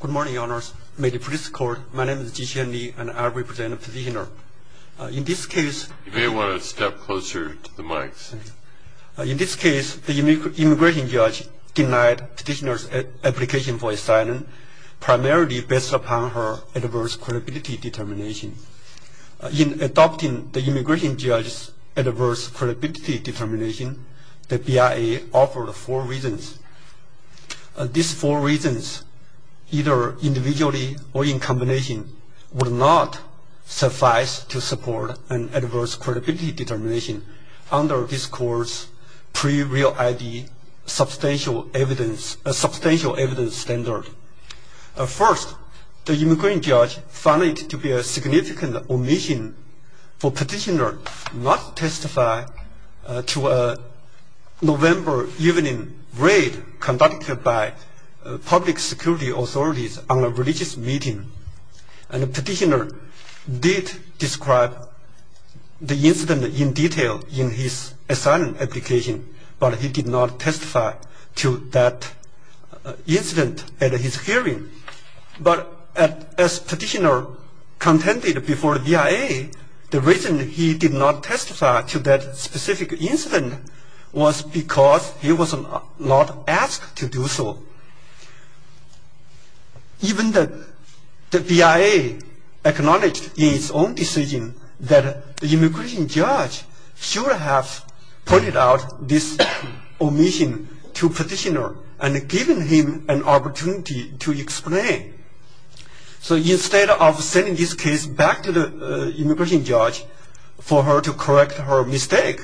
Good morning, honors. May the police court, my name is Jiqian Li, and I represent the petitioner. In this case, you may want to step closer to the mics. In this case, the immigration judge denied petitioner's application for asylum, primarily based upon her adverse credibility determination. In adopting the immigration judge's adverse credibility determination, the BIA offered four reasons. These four reasons, either individually or in combination, would not suffice to support an adverse credibility determination under this court's pre-real ID substantial evidence standard. First, the immigration judge found it to be a significant omission for petitioner not testify to a November evening raid conducted by public security authorities on a religious meeting. And the petitioner did describe the incident in detail in his asylum application, but he did not testify to that incident at his hearing. But as petitioner contended before the BIA, the reason he did not testify to that specific incident was because he was not asked to do so. Even the BIA acknowledged in its own decision that the immigration judge should have pointed out this omission to petitioner and given him an opportunity to explain. So instead of sending this case back to the immigration judge for her to correct her mistake,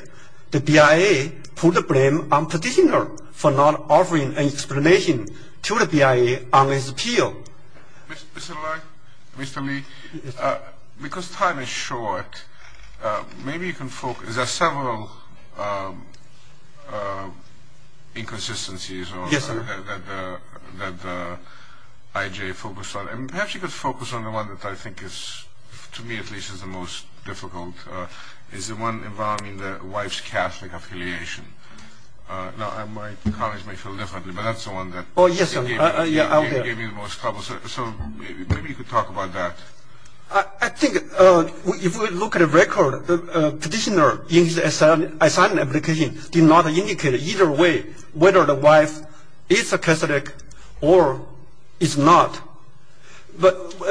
the BIA put the blame on petitioner for not offering an explanation to the BIA on his appeal. Mr. Lai, Mr. Li, because time is short, maybe you can focus. There are several inconsistencies that the IJ focused on. And perhaps you could focus on the one that I think is, to me at least, is the most difficult, is the one involving the wife's Catholic affiliation. Now my colleagues may feel differently, but that's the one that gave me the most trouble. So maybe you could talk about that. I think if we look at a record, the petitioner in his asylum application did not indicate either way whether the wife is a Catholic or is not. But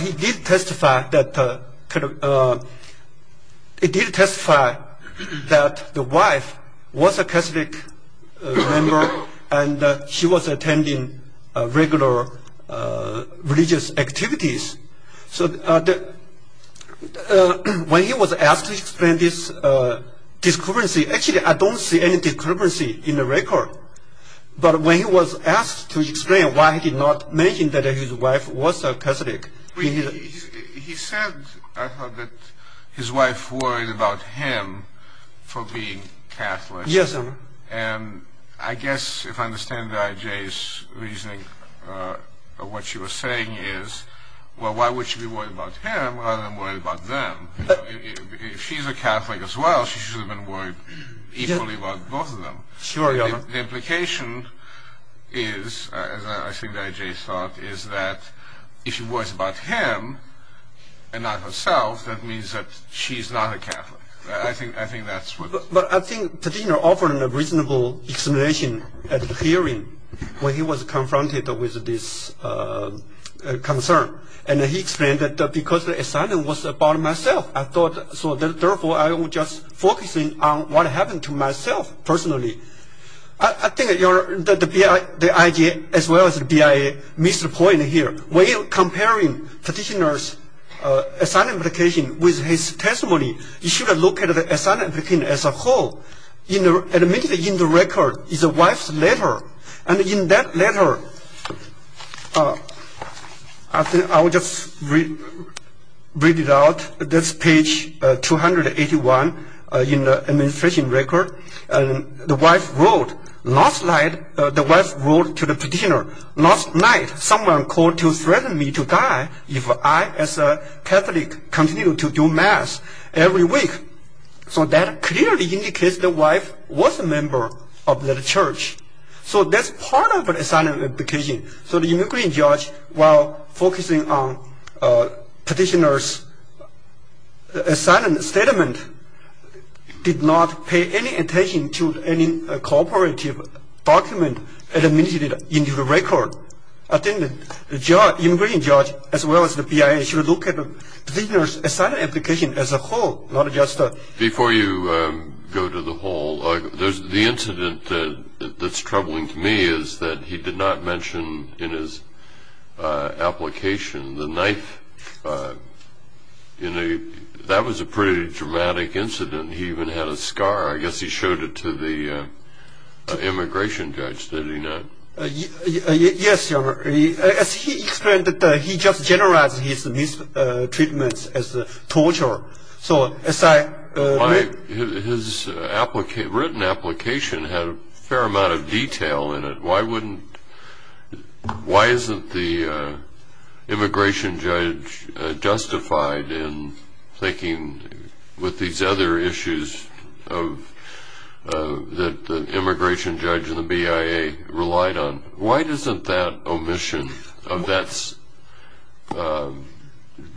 he did testify that the wife was a Catholic member and she was attending regular religious activities. So when he was asked to explain this discrepancy, actually I don't see any discrepancy in the record. But when he was asked to explain why he did not mention that his wife was a Catholic, he said, I thought, that his wife worried about him for being Catholic. Yes, sir. And I guess if I understand the IJ's reasoning, what she was saying is, well, why would she be worried about him rather than worried about them? If she's a Catholic as well, she should worry equally about both of them. Sure, yeah. The implication is, as I think the IJ thought, is that if she worries about him and not herself, that means that she's not a Catholic. I think that's what it is. But I think the petitioner offered a reasonable explanation at the hearing when he was confronted with this concern. And he explained that because the asylum was about myself, so therefore, I was just focusing on what happened to myself personally. I think that the IJ, as well as the BIA, missed a point here. When you're comparing petitioner's asylum application with his testimony, you should have looked at the asylum application as a whole. Admitted in the record is the wife's letter. And in that letter, I think I will just read it out. That's page 281 in the administration record. The wife wrote, last night, the wife wrote to the petitioner, last night, someone called to threaten me to die if I, as a Catholic, continue to do mass every week. So that clearly indicates the wife was a member of that church. So that's part of the asylum application. So the immigration judge, while focusing on petitioner's asylum statement, did not pay any attention to any cooperative document admitted into the record. I think the immigration judge, as well as the BIA, should look at the petitioner's asylum application as a whole, not just a- Before you go to the whole, the incident that's troubling to me is that he did not mention in his application the knife. That was a pretty dramatic incident. He even had a scar. I guess he showed it to the immigration judge. Did he not? Yes, Your Honor. As he explained, he just generalized his mistreatment as torture. So as I read- His written application had a fair amount of detail in it. Why wouldn't- why isn't the immigration judge justified in thinking with these other issues that the immigration judge and the BIA relied on? Why isn't that omission of that-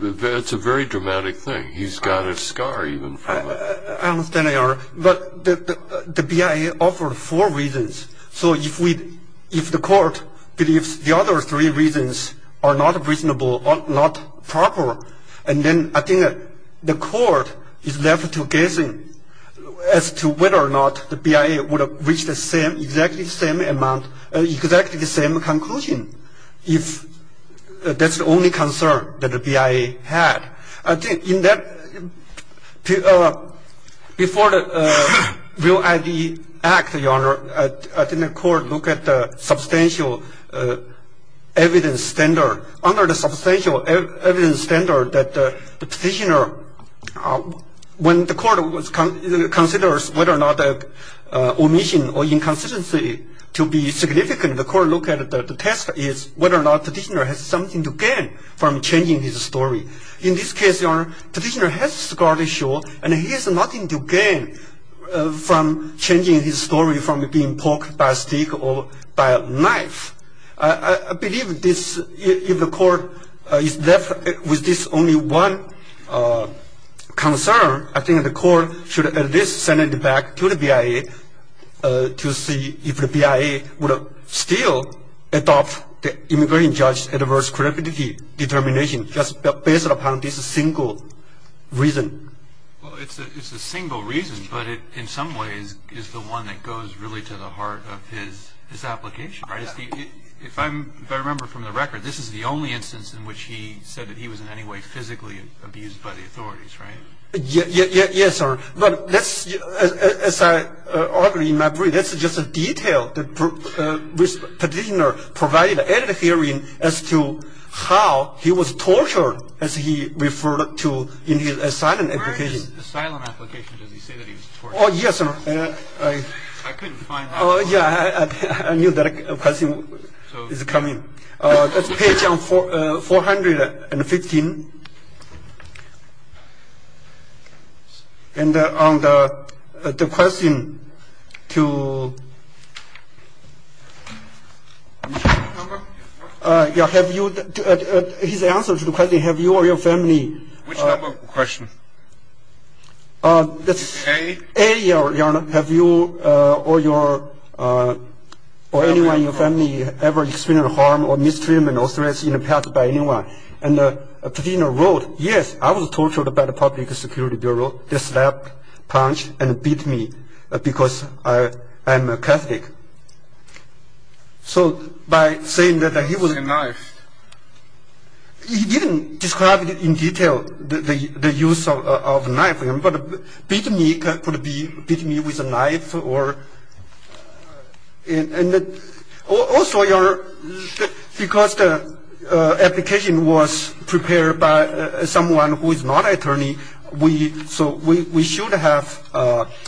it's a very dramatic thing. He's got a scar even from it. I understand, Your Honor. But the BIA offered four reasons. So if the court believes the other three reasons are not reasonable or not proper, and then I think the court is left to guessing as to whether or not the BIA would have reached the same- exactly the same amount- exactly the same conclusion if that's the only concern that the BIA had. In that- before the REAL ID Act, Your Honor, I think the court looked at the substantial evidence standard. Under the substantial evidence standard that the petitioner- when the court considers whether or not omission or inconsistency to be significant, the court looked at the test is whether or not the petitioner has something to gain from changing his story. In this case, Your Honor, the petitioner has a scar to show, and he has nothing to gain from changing his story from being poked by a stick or by a knife. I believe this- if the court is left with this only one concern, I think the court should at least send it back to the BIA to see if the BIA would still adopt the immigration judge's adverse credibility determination just based upon this single reason. Well, it's a single reason, but it, in some ways, is the one that goes really to the heart of his application. If I remember from the record, this is the only instance in which he said that he was in any way physically abused by the authorities, right? Yes, sir. But let's- as I argue in my brief, that's just a detail that the petitioner provided at the hearing as to how he was tortured, as he referred to in his asylum application. Where in his asylum application does he say that he was tortured? Oh, yes, sir. I couldn't find that. Oh, yeah, I knew that question was coming. That's page 415. And on the question to- Which number? Yeah, have you- his answer to the question, have you or your family- Which number question? That's- A? A, yeah, or have you or your- or anyone in your family ever experienced harm or mistreatment or threats in the past by anyone? And the petitioner wrote, yes, I was tortured by the Public Security Bureau. They slapped, punched, and beat me because I am a Catholic. So by saying that he was- With a knife. He didn't describe in detail the use of a knife. But beat me could be- beat me with a knife or- and also your- because the application was prepared by someone who is not attorney, we- so we should have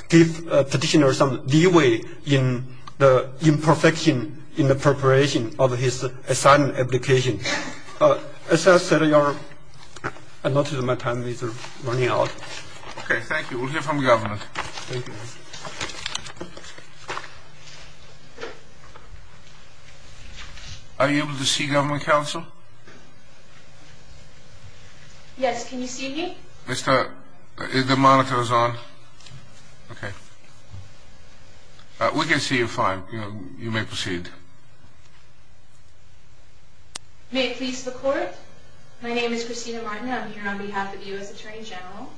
give petitioner some leeway in the imperfection in the preparation of his asylum application. As I said, your- I noticed my time is running out. Okay, thank you. We'll hear from government. Thank you. Are you able to see government counsel? Yes, can you see me? Mr- the monitor is on. Okay. We can see you fine. You may proceed. May it please the court, my name is Christina Martina. I'm here on behalf of the U.S. Attorney General.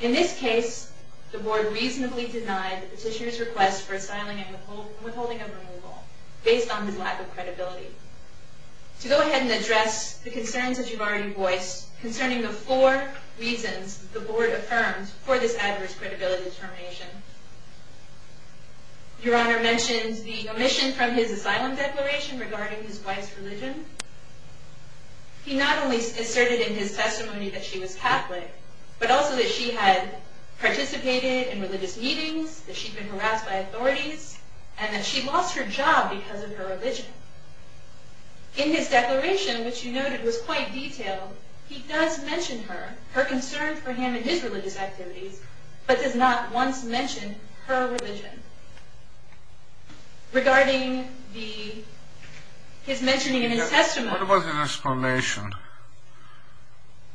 In this case, the board reasonably denied the petitioner's request for asylum and withholding of removal based on his lack of credibility. To go ahead and address the concerns that you've already voiced concerning the four reasons the board affirmed for this adverse credibility determination. Your Honor mentioned the omission from his asylum declaration regarding his wife's religion. He not only asserted in his testimony that she was Catholic, but also that she had participated in religious meetings, that she'd been harassed by authorities, and that she lost her job because of her religion. In his declaration, which you noted was quite detailed, he does mention her, her concern for him and his religious activities, but does not once mention her religion. Regarding the- his mentioning in his testimony- What about his explanation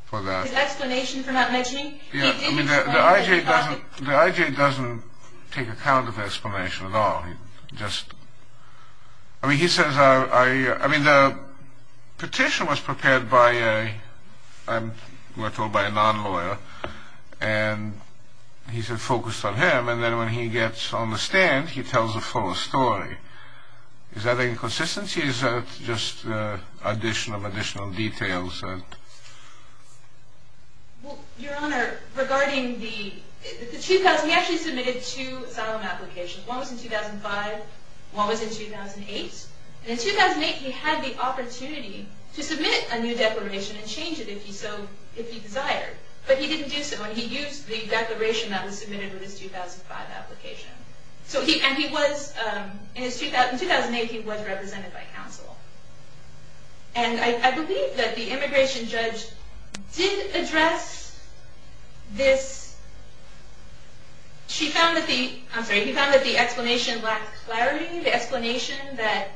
for that? His explanation for not mentioning? Yeah, I mean, the I.J. doesn't take account of the explanation at all. Just- I mean, he says I- I mean, the petition was prepared by a- I'm- we're told by a non-lawyer, and he said focused on him, and then when he gets on the stand, he tells the full story. Is that inconsistency? Is that just addition of additional details? Well, Your Honor, regarding the- the two- he actually submitted two asylum applications. One was in 2005, one was in 2008, and in 2008, he had the opportunity to submit a new declaration and change it if he so- if he desired, but he didn't do so, and he used the declaration that was submitted with his 2005 application. So he- and he was- in his- in 2008, he was represented by counsel, and I- I believe that the immigration judge did address this- she found that the- I'm sorry, he found that the explanation lacked clarity, the explanation that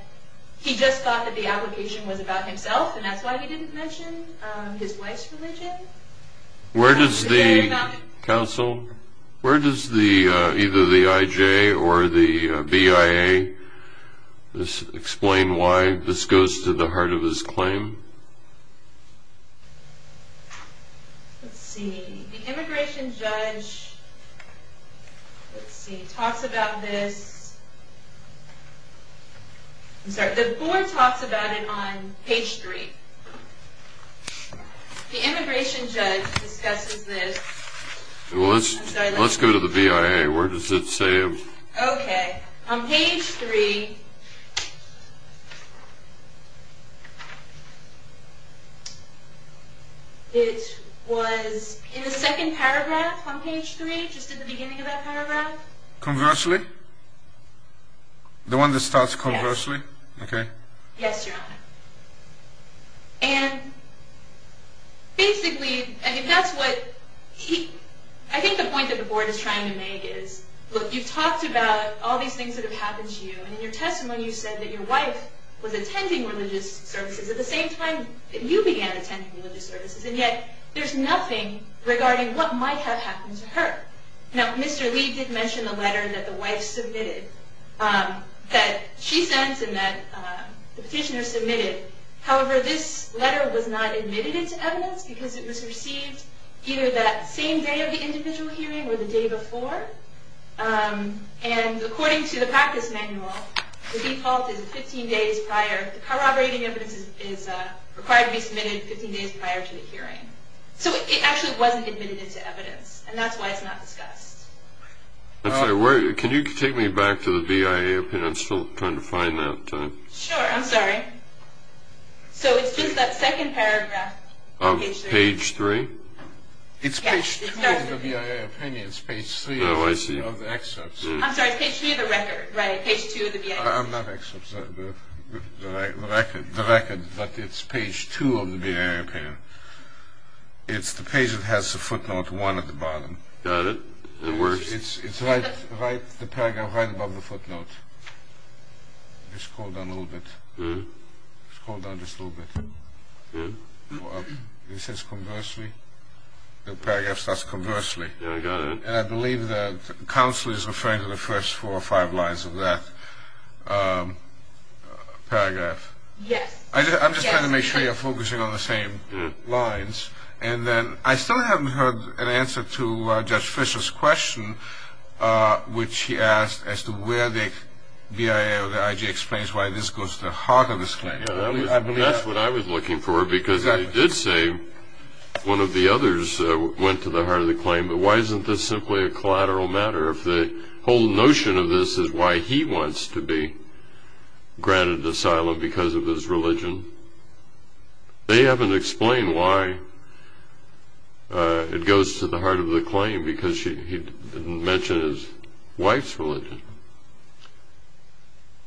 he just thought that the application was about himself, and that's why he didn't mention his wife's religion. Where does the- counsel, where does the- either the IJ or the BIA- this- explain why this goes to the heart of his claim? Let's see, the immigration judge- let's see, talks about this- I'm sorry, the board talks about it on page 3. The immigration judge discusses this- Well, let's- let's go to the BIA. Where does it say it? Okay, on page 3, it was in the second paragraph on page 3, just at the beginning of that paragraph. Conversely? The one that starts conversely? Okay. Yes, your honor. And basically, I mean, that's what he- I think the point that the board is trying to make is, look, you've talked about all these things that have happened to you, and in your testimony you said that your wife was attending religious services at the same time that you began attending religious services, and yet there's nothing regarding what might have happened to her. Now, Mr. Lee did mention a letter that the wife submitted, that she sent and that the petitioner submitted. However, this letter was not admitted into evidence because it was received either that same day of the individual hearing or the day before, and according to the practice manual, the default is 15 days prior- the corroborating evidence is required to be submitted 15 days prior to the hearing. So it actually wasn't admitted into evidence, and that's why it's not discussed. I'm sorry, can you take me back to the BIA opinion? I'm still trying to find that. Sure, I'm sorry. So it's just that second paragraph on page 3? It's page 2 of the BIA opinion, it's page 3 of the excerpts. I'm sorry, it's page 3 of the record, right, page 2 of the BIA opinion. I'm not excerpts, the record, but it's page 2 of the BIA opinion. It's the page that has the footnote 1 at the bottom. Got it, that works. It's right, the paragraph right above the footnote. Just scroll down a little bit, scroll down just a little bit. It says conversely, the paragraph says conversely. Yeah, I got it. And I believe the counsel is referring to the first four or five lines of that paragraph. Yes. I'm just trying to make sure you're focusing on the same lines. And then I still haven't heard an answer to Judge Fisher's question, which he asked as to where the BIA or the IG explains why this goes to the heart of this claim. Yeah, that's what I was looking for, because he did say one of the others went to the heart of the claim, but why isn't this simply a collateral matter if the whole notion of this is why he wants to be granted asylum because of his religion? They haven't explained why it goes to the heart of the claim, because he didn't mention his wife's religion.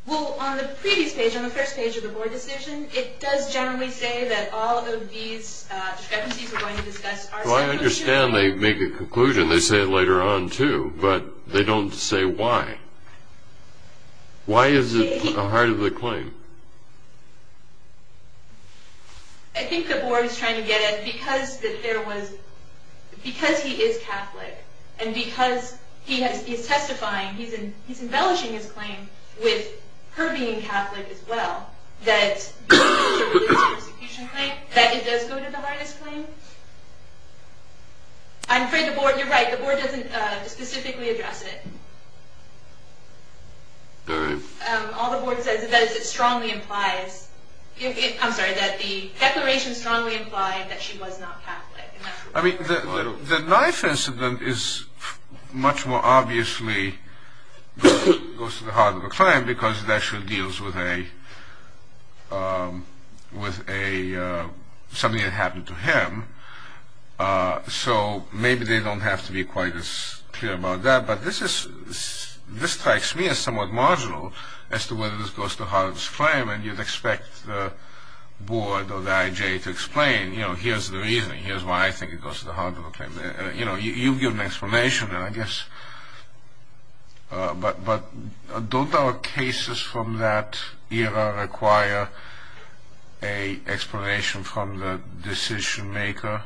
Well, on the previous page, on the first page of the board decision, it does generally say that all of these discrepancies we're going to discuss are separate. I understand they make a conclusion. They say it later on, too, but they don't say why. Why is it the heart of the claim? I think the board is trying to get at, because he is Catholic, and because he's testifying, he's embellishing his claim with her being Catholic as well, that the execution claim, that it does go to the heart of this claim. I'm afraid the board, you're right, the board doesn't specifically address it. All the board says is that it strongly implies, I'm sorry, that the declaration strongly implied that she was not Catholic. I mean, the knife incident is much more obviously goes to the heart of the claim, because it actually deals with something that happened to him. So maybe they don't have to be quite as clear about that, but this strikes me as somewhat marginal as to whether this goes to the heart of this claim, and you'd expect the board or the IJ to explain, you know, here's the reasoning, here's why I think it goes to the heart of the claim. You know, you've given an explanation, and I guess, but don't our cases from that era require an explanation from the decision maker,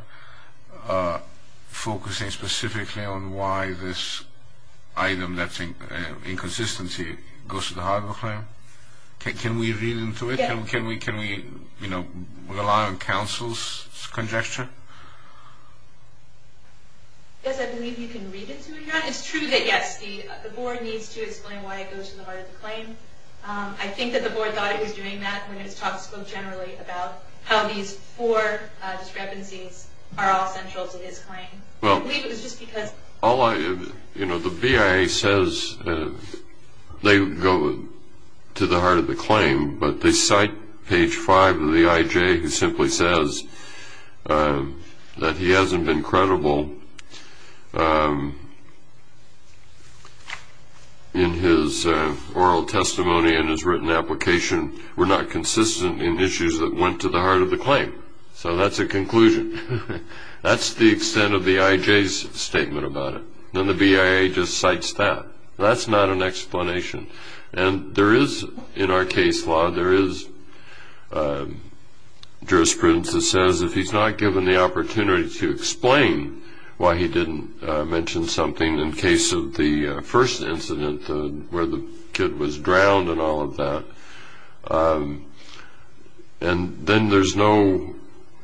focusing specifically on why this item that's in inconsistency goes to the heart of the claim? Can we read into it? Can we rely on counsel's conjecture? Yes, I believe you can read into it, yeah. It's true that, yes, the board needs to explain why it goes to the heart of the claim. I think that the board thought it was doing that when it was talked to generally about how these four discrepancies are all central to his claim. I believe it was just because... All I, you know, the BIA says they go to the heart of the claim, but they cite page five of the IJ, who simply says that he hasn't been credible in his oral testimony and his written application. We're not consistent in issues that went to the heart of the claim, so that's a conclusion. That's the extent of the IJ's statement about it, and the BIA just cites that. That's not an explanation. And there is, in our case law, there is jurisprudence that says that he's not given the opportunity to explain why he didn't mention something in case of the first incident where the kid was drowned and all of that. And then there's no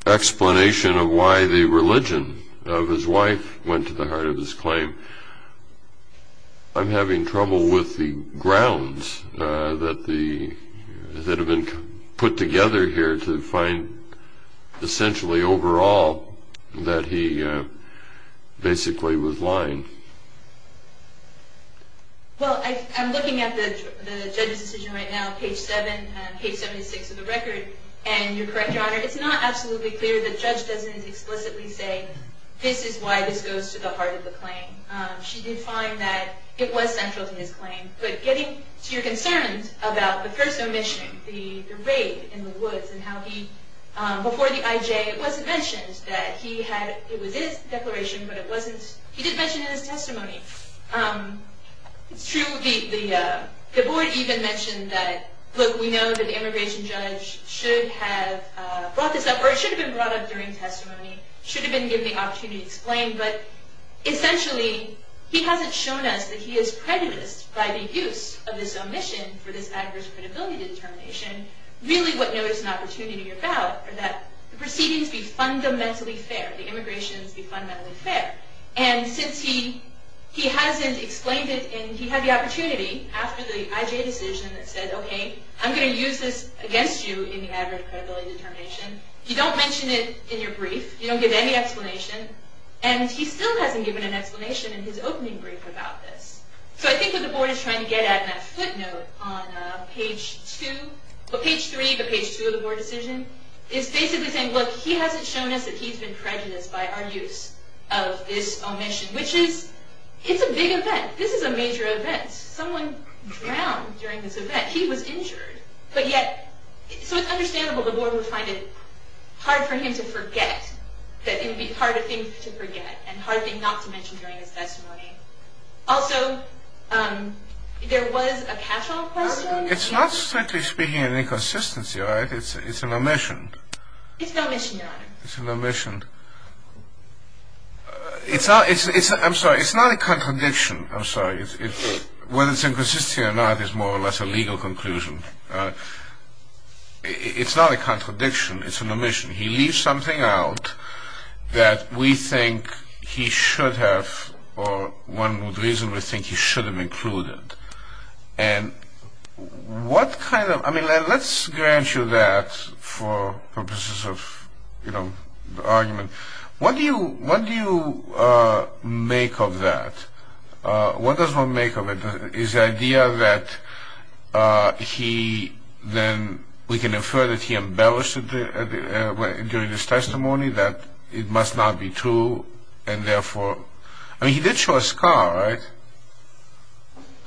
explanation of why the religion of his wife went to the heart of his claim. I'm having trouble with the grounds that have been put together here to find essentially overall that he basically was lying. Well, I'm looking at the judge's decision right now, page seven, page 76 of the record, and you're correct, Your Honor, it's not absolutely clear that the judge doesn't explicitly say this is why this goes to the heart of the claim. She did find that it was central to his claim, but getting to your concerns about the first omission, the raid in the woods and how he, before the IJ it wasn't mentioned that he had, it was his declaration, but it wasn't, he didn't mention it in his testimony. It's true the board even mentioned that, look, we know that the immigration judge should have brought this up, or it should have been brought up during testimony, should have been given the opportunity to explain, but essentially he hasn't shown us that he is prejudiced by the use of this omission for this adverse credibility determination. Really what notice and opportunity are about are that the proceedings be fundamentally fair, the immigrations be fundamentally fair. And since he hasn't explained it and he had the opportunity after the IJ decision that said, okay, I'm going to use this against you in the adverse credibility determination. You don't mention it in your brief. You don't give any explanation. And he still hasn't given an explanation in his opening brief about this. So I think what the board is trying to get at in that footnote on page two, or page three, the page two of the board decision, is basically saying, look, he hasn't shown us that he's been prejudiced by our use of this omission, which is, it's a big event. This is a major event. Someone drowned during this event. That he was injured, but yet, so it's understandable the board would find it hard for him to forget that it would be hard a thing to forget and hard a thing not to mention during his testimony. Also, there was a cash-off question. It's not, strictly speaking, an inconsistency, right? It's an omission. It's no mission, Your Honor. It's an omission. It's not, I'm sorry, it's not a contradiction, I'm sorry. Whether it's inconsistency or not is more or less a legal conclusion. It's not a contradiction, it's an omission. He leaves something out that we think he should have, or one would reasonably think he should have included. And what kind of, I mean, let's grant you that for purposes of, you know, argument. What do you, what do you make of that? What does one make of it is the idea that he then, we can infer that he embellished it during his testimony, that it must not be true, and therefore, I mean, he did show a scar, right?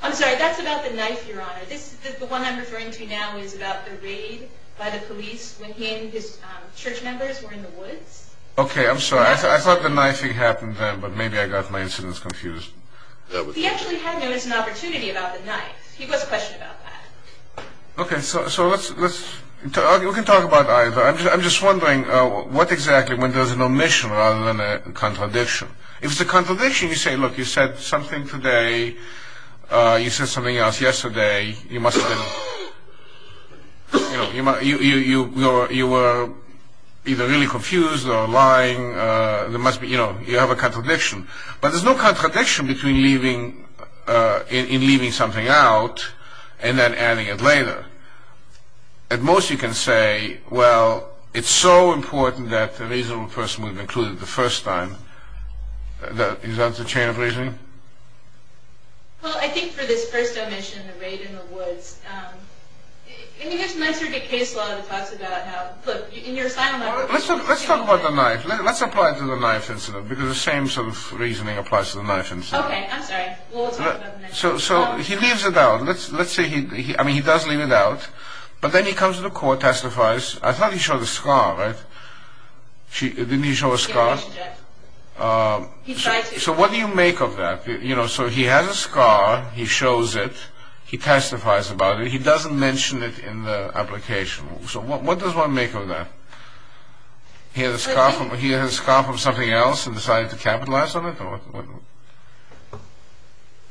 I'm sorry, that's about the knife, Your Honor. This, the one I'm referring to now is about the raid by the police when he and his church members were in the woods. Okay, I'm sorry, I thought the knifing happened then, but maybe I got my incidents confused. He actually had an opportunity about the knife. He was questioned about that. Okay, so let's, we can talk about either. I'm just wondering what exactly, when there's an omission rather than a contradiction. If it's a contradiction, you say, look, you said something today, you said something else yesterday, you must have been, you know, you were either really confused or lying, there must be, you know, you have a contradiction. But there's no contradiction between leaving, in leaving something out and then adding it later. At most, you can say, well, it's so important that the reasonable person was included the first time. Is that the chain of reasoning? Well, I think for this first omission, the raid in the woods, I think there's an answer to case law that talks about how, look, in your asylum... Let's talk about the knife. Let's apply it to the knife incident, because the same sort of reasoning applies to the knife incident. Okay, I'm sorry. So, he leaves it out. Let's say he, I mean, he does leave it out, but then he comes to the court, testifies. I thought he showed a scar, right? Didn't he show a scar? He tried to. Okay, so what do you make of that? You know, so he has a scar, he shows it, he testifies about it, he doesn't mention it in the application. So what does one make of that? He has a scar from something else and decided to capitalize on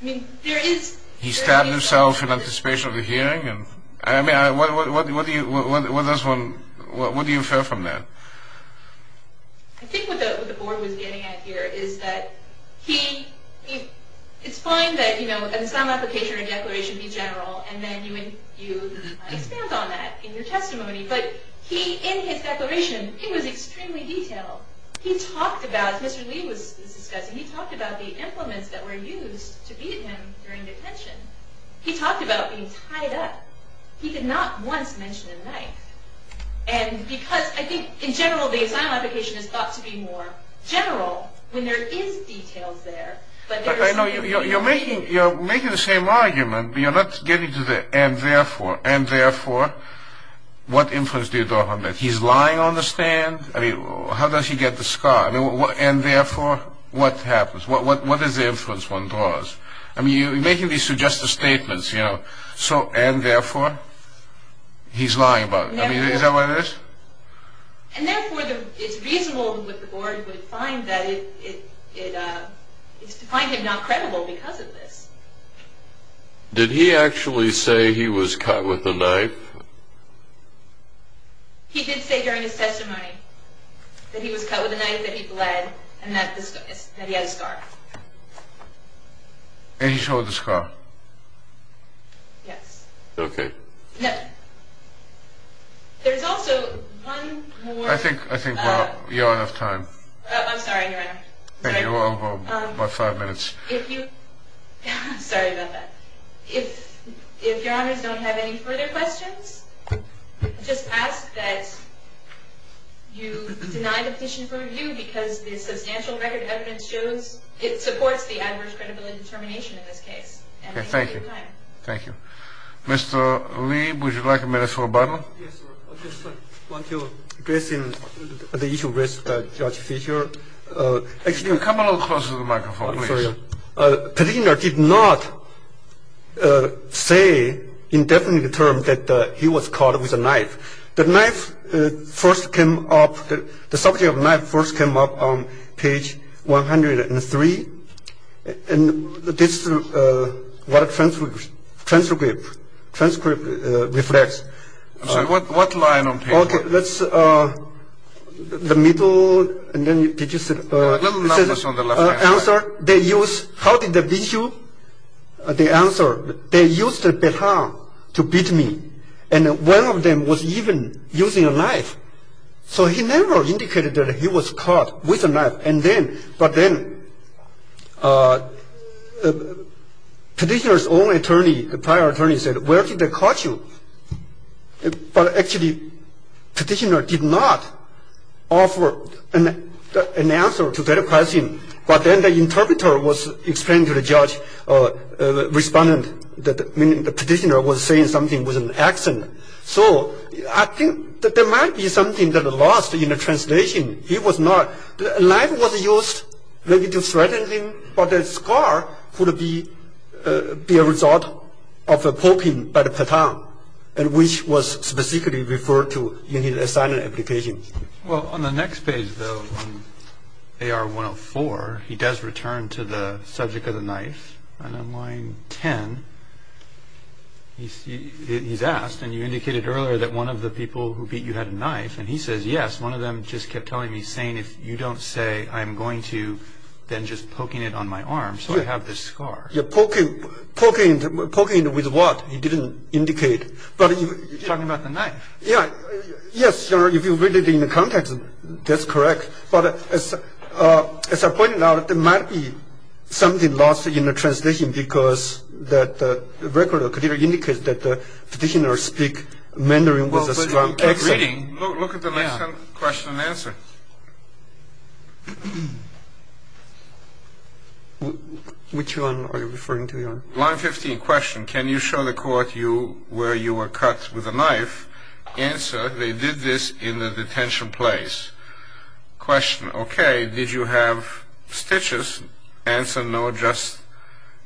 it? He stabbed himself in anticipation of the hearing? I mean, what do you, what does one, what do you infer from that? I think what the board was getting at here is that he, it's fine that, you know, in some application or declaration be general, and then you expand on that in your testimony, but he, in his declaration, it was extremely detailed. He talked about, as Mr. Lee was discussing, he talked about the implements that were used to beat him during detention. He talked about being tied up. He did not once mention a knife. And because, I think, in general, the asylum application is thought to be more general when there is details there, but there was something that he repeated. You're making the same argument, but you're not getting to the, and therefore, and therefore, what influence do you draw on that? He's lying on the stand? I mean, how does he get the scar? I mean, and therefore, what happens? What is the influence one draws? I mean, you're making these suggestive statements, you know, so, and therefore, he's lying about it. I mean, is that what it is? And therefore, it's reasonable that the board would find that it's to find him not credible because of this. Did he actually say he was cut with a knife? He did say during his testimony that he was cut with a knife, that he bled, and that he had a scar. And he showed the scar? Yes. Okay. No. There's also one more. I think we're out of time. I'm sorry, Your Honor. Thank you. We're about five minutes. If you, sorry about that. If Your Honors don't have any further questions, just ask that you deny the petition for review because the substantial record evidence shows it supports the adverse credibility determination in this case. Okay, thank you. Thank you. Mr. Lieb, would you like a minute for rebuttal? Yes, sir. I just want to address the issue raised by Judge Fischer. Come a little closer to the microphone, please. I'm sorry. Petitioner did not say in definite terms that he was cut with a knife. The knife first came up, the subject of knife first came up on page 103. And this is what the transcript reflects. So what line on page 103? Okay, let's, the middle, and then did you see the answer? They used, how did they beat you? The answer, they used a baton to beat me. And one of them was even using a knife. So he never indicated that he was cut with a knife. And then, but then petitioner's own attorney, the prior attorney said, where did they cut you? But actually petitioner did not offer an answer to that question. But then the interpreter was explaining to the judge, the respondent, the petitioner was saying something with an accent. So I think that there might be something that lost in the translation. He was not, the knife was used maybe to threaten him, but the scar could be a result of a poking by the baton, which was specifically referred to in his assignment application. Well, on the next page, though, on AR 104, he does return to the subject of the knife. And on line 10, he's asked, and you indicated earlier that one of the people who beat you had a knife. And he says, yes, one of them just kept telling me, saying, if you don't say I'm going to, then just poking it on my arm so I have this scar. Yeah, poking it with what? He didn't indicate. Talking about the knife. Yeah, yes, if you read it in the context, that's correct. But as I pointed out, there might be something lost in the translation because the record clearly indicates that the petitioner speak Mandarin with a strong accent. Look at the next question and answer. Which one are you referring to? Line 15, question, can you show the court where you were cut with a knife? Answer, they did this in a detention place. Question, okay, did you have stitches? Answer, no, just,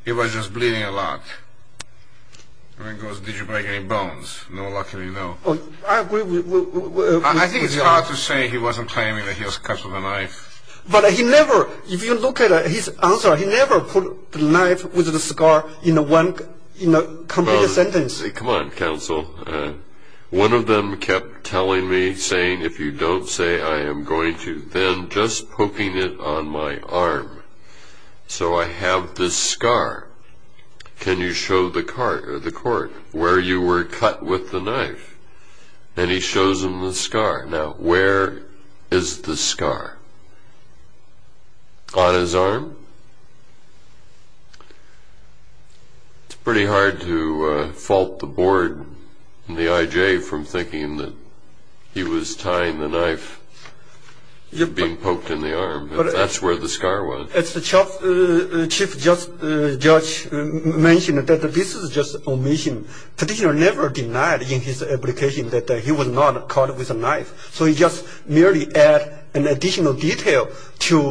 it was just bleeding a lot. The man goes, did you break any bones? No, luckily, no. I agree with you. I think it's hard to say he wasn't claiming that he was cut with a knife. But he never, if you look at his answer, he never put the knife with the scar in one complete sentence. Come on, counsel, one of them kept telling me, saying, if you don't say I am going to, then just poking it on my arm so I have this scar. Can you show the court where you were cut with the knife? And he shows him the scar. Now, where is the scar? On his arm? It's pretty hard to fault the board and the IJ from thinking that he was tying the knife, being poked in the arm, if that's where the scar was. As the chief judge mentioned, this is just omission. The judge never denied in his application that he was not cut with a knife. So he just merely added an additional detail to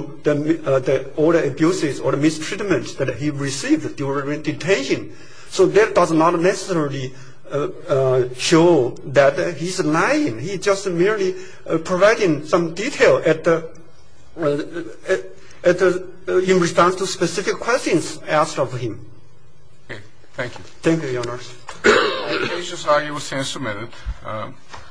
all the abuses or mistreatments that he received during detention. So that does not necessarily show that he's lying. He's just merely providing some detail in response to specific questions asked of him. Okay, thank you. Thank you, Your Honor. The case is argued and submitted.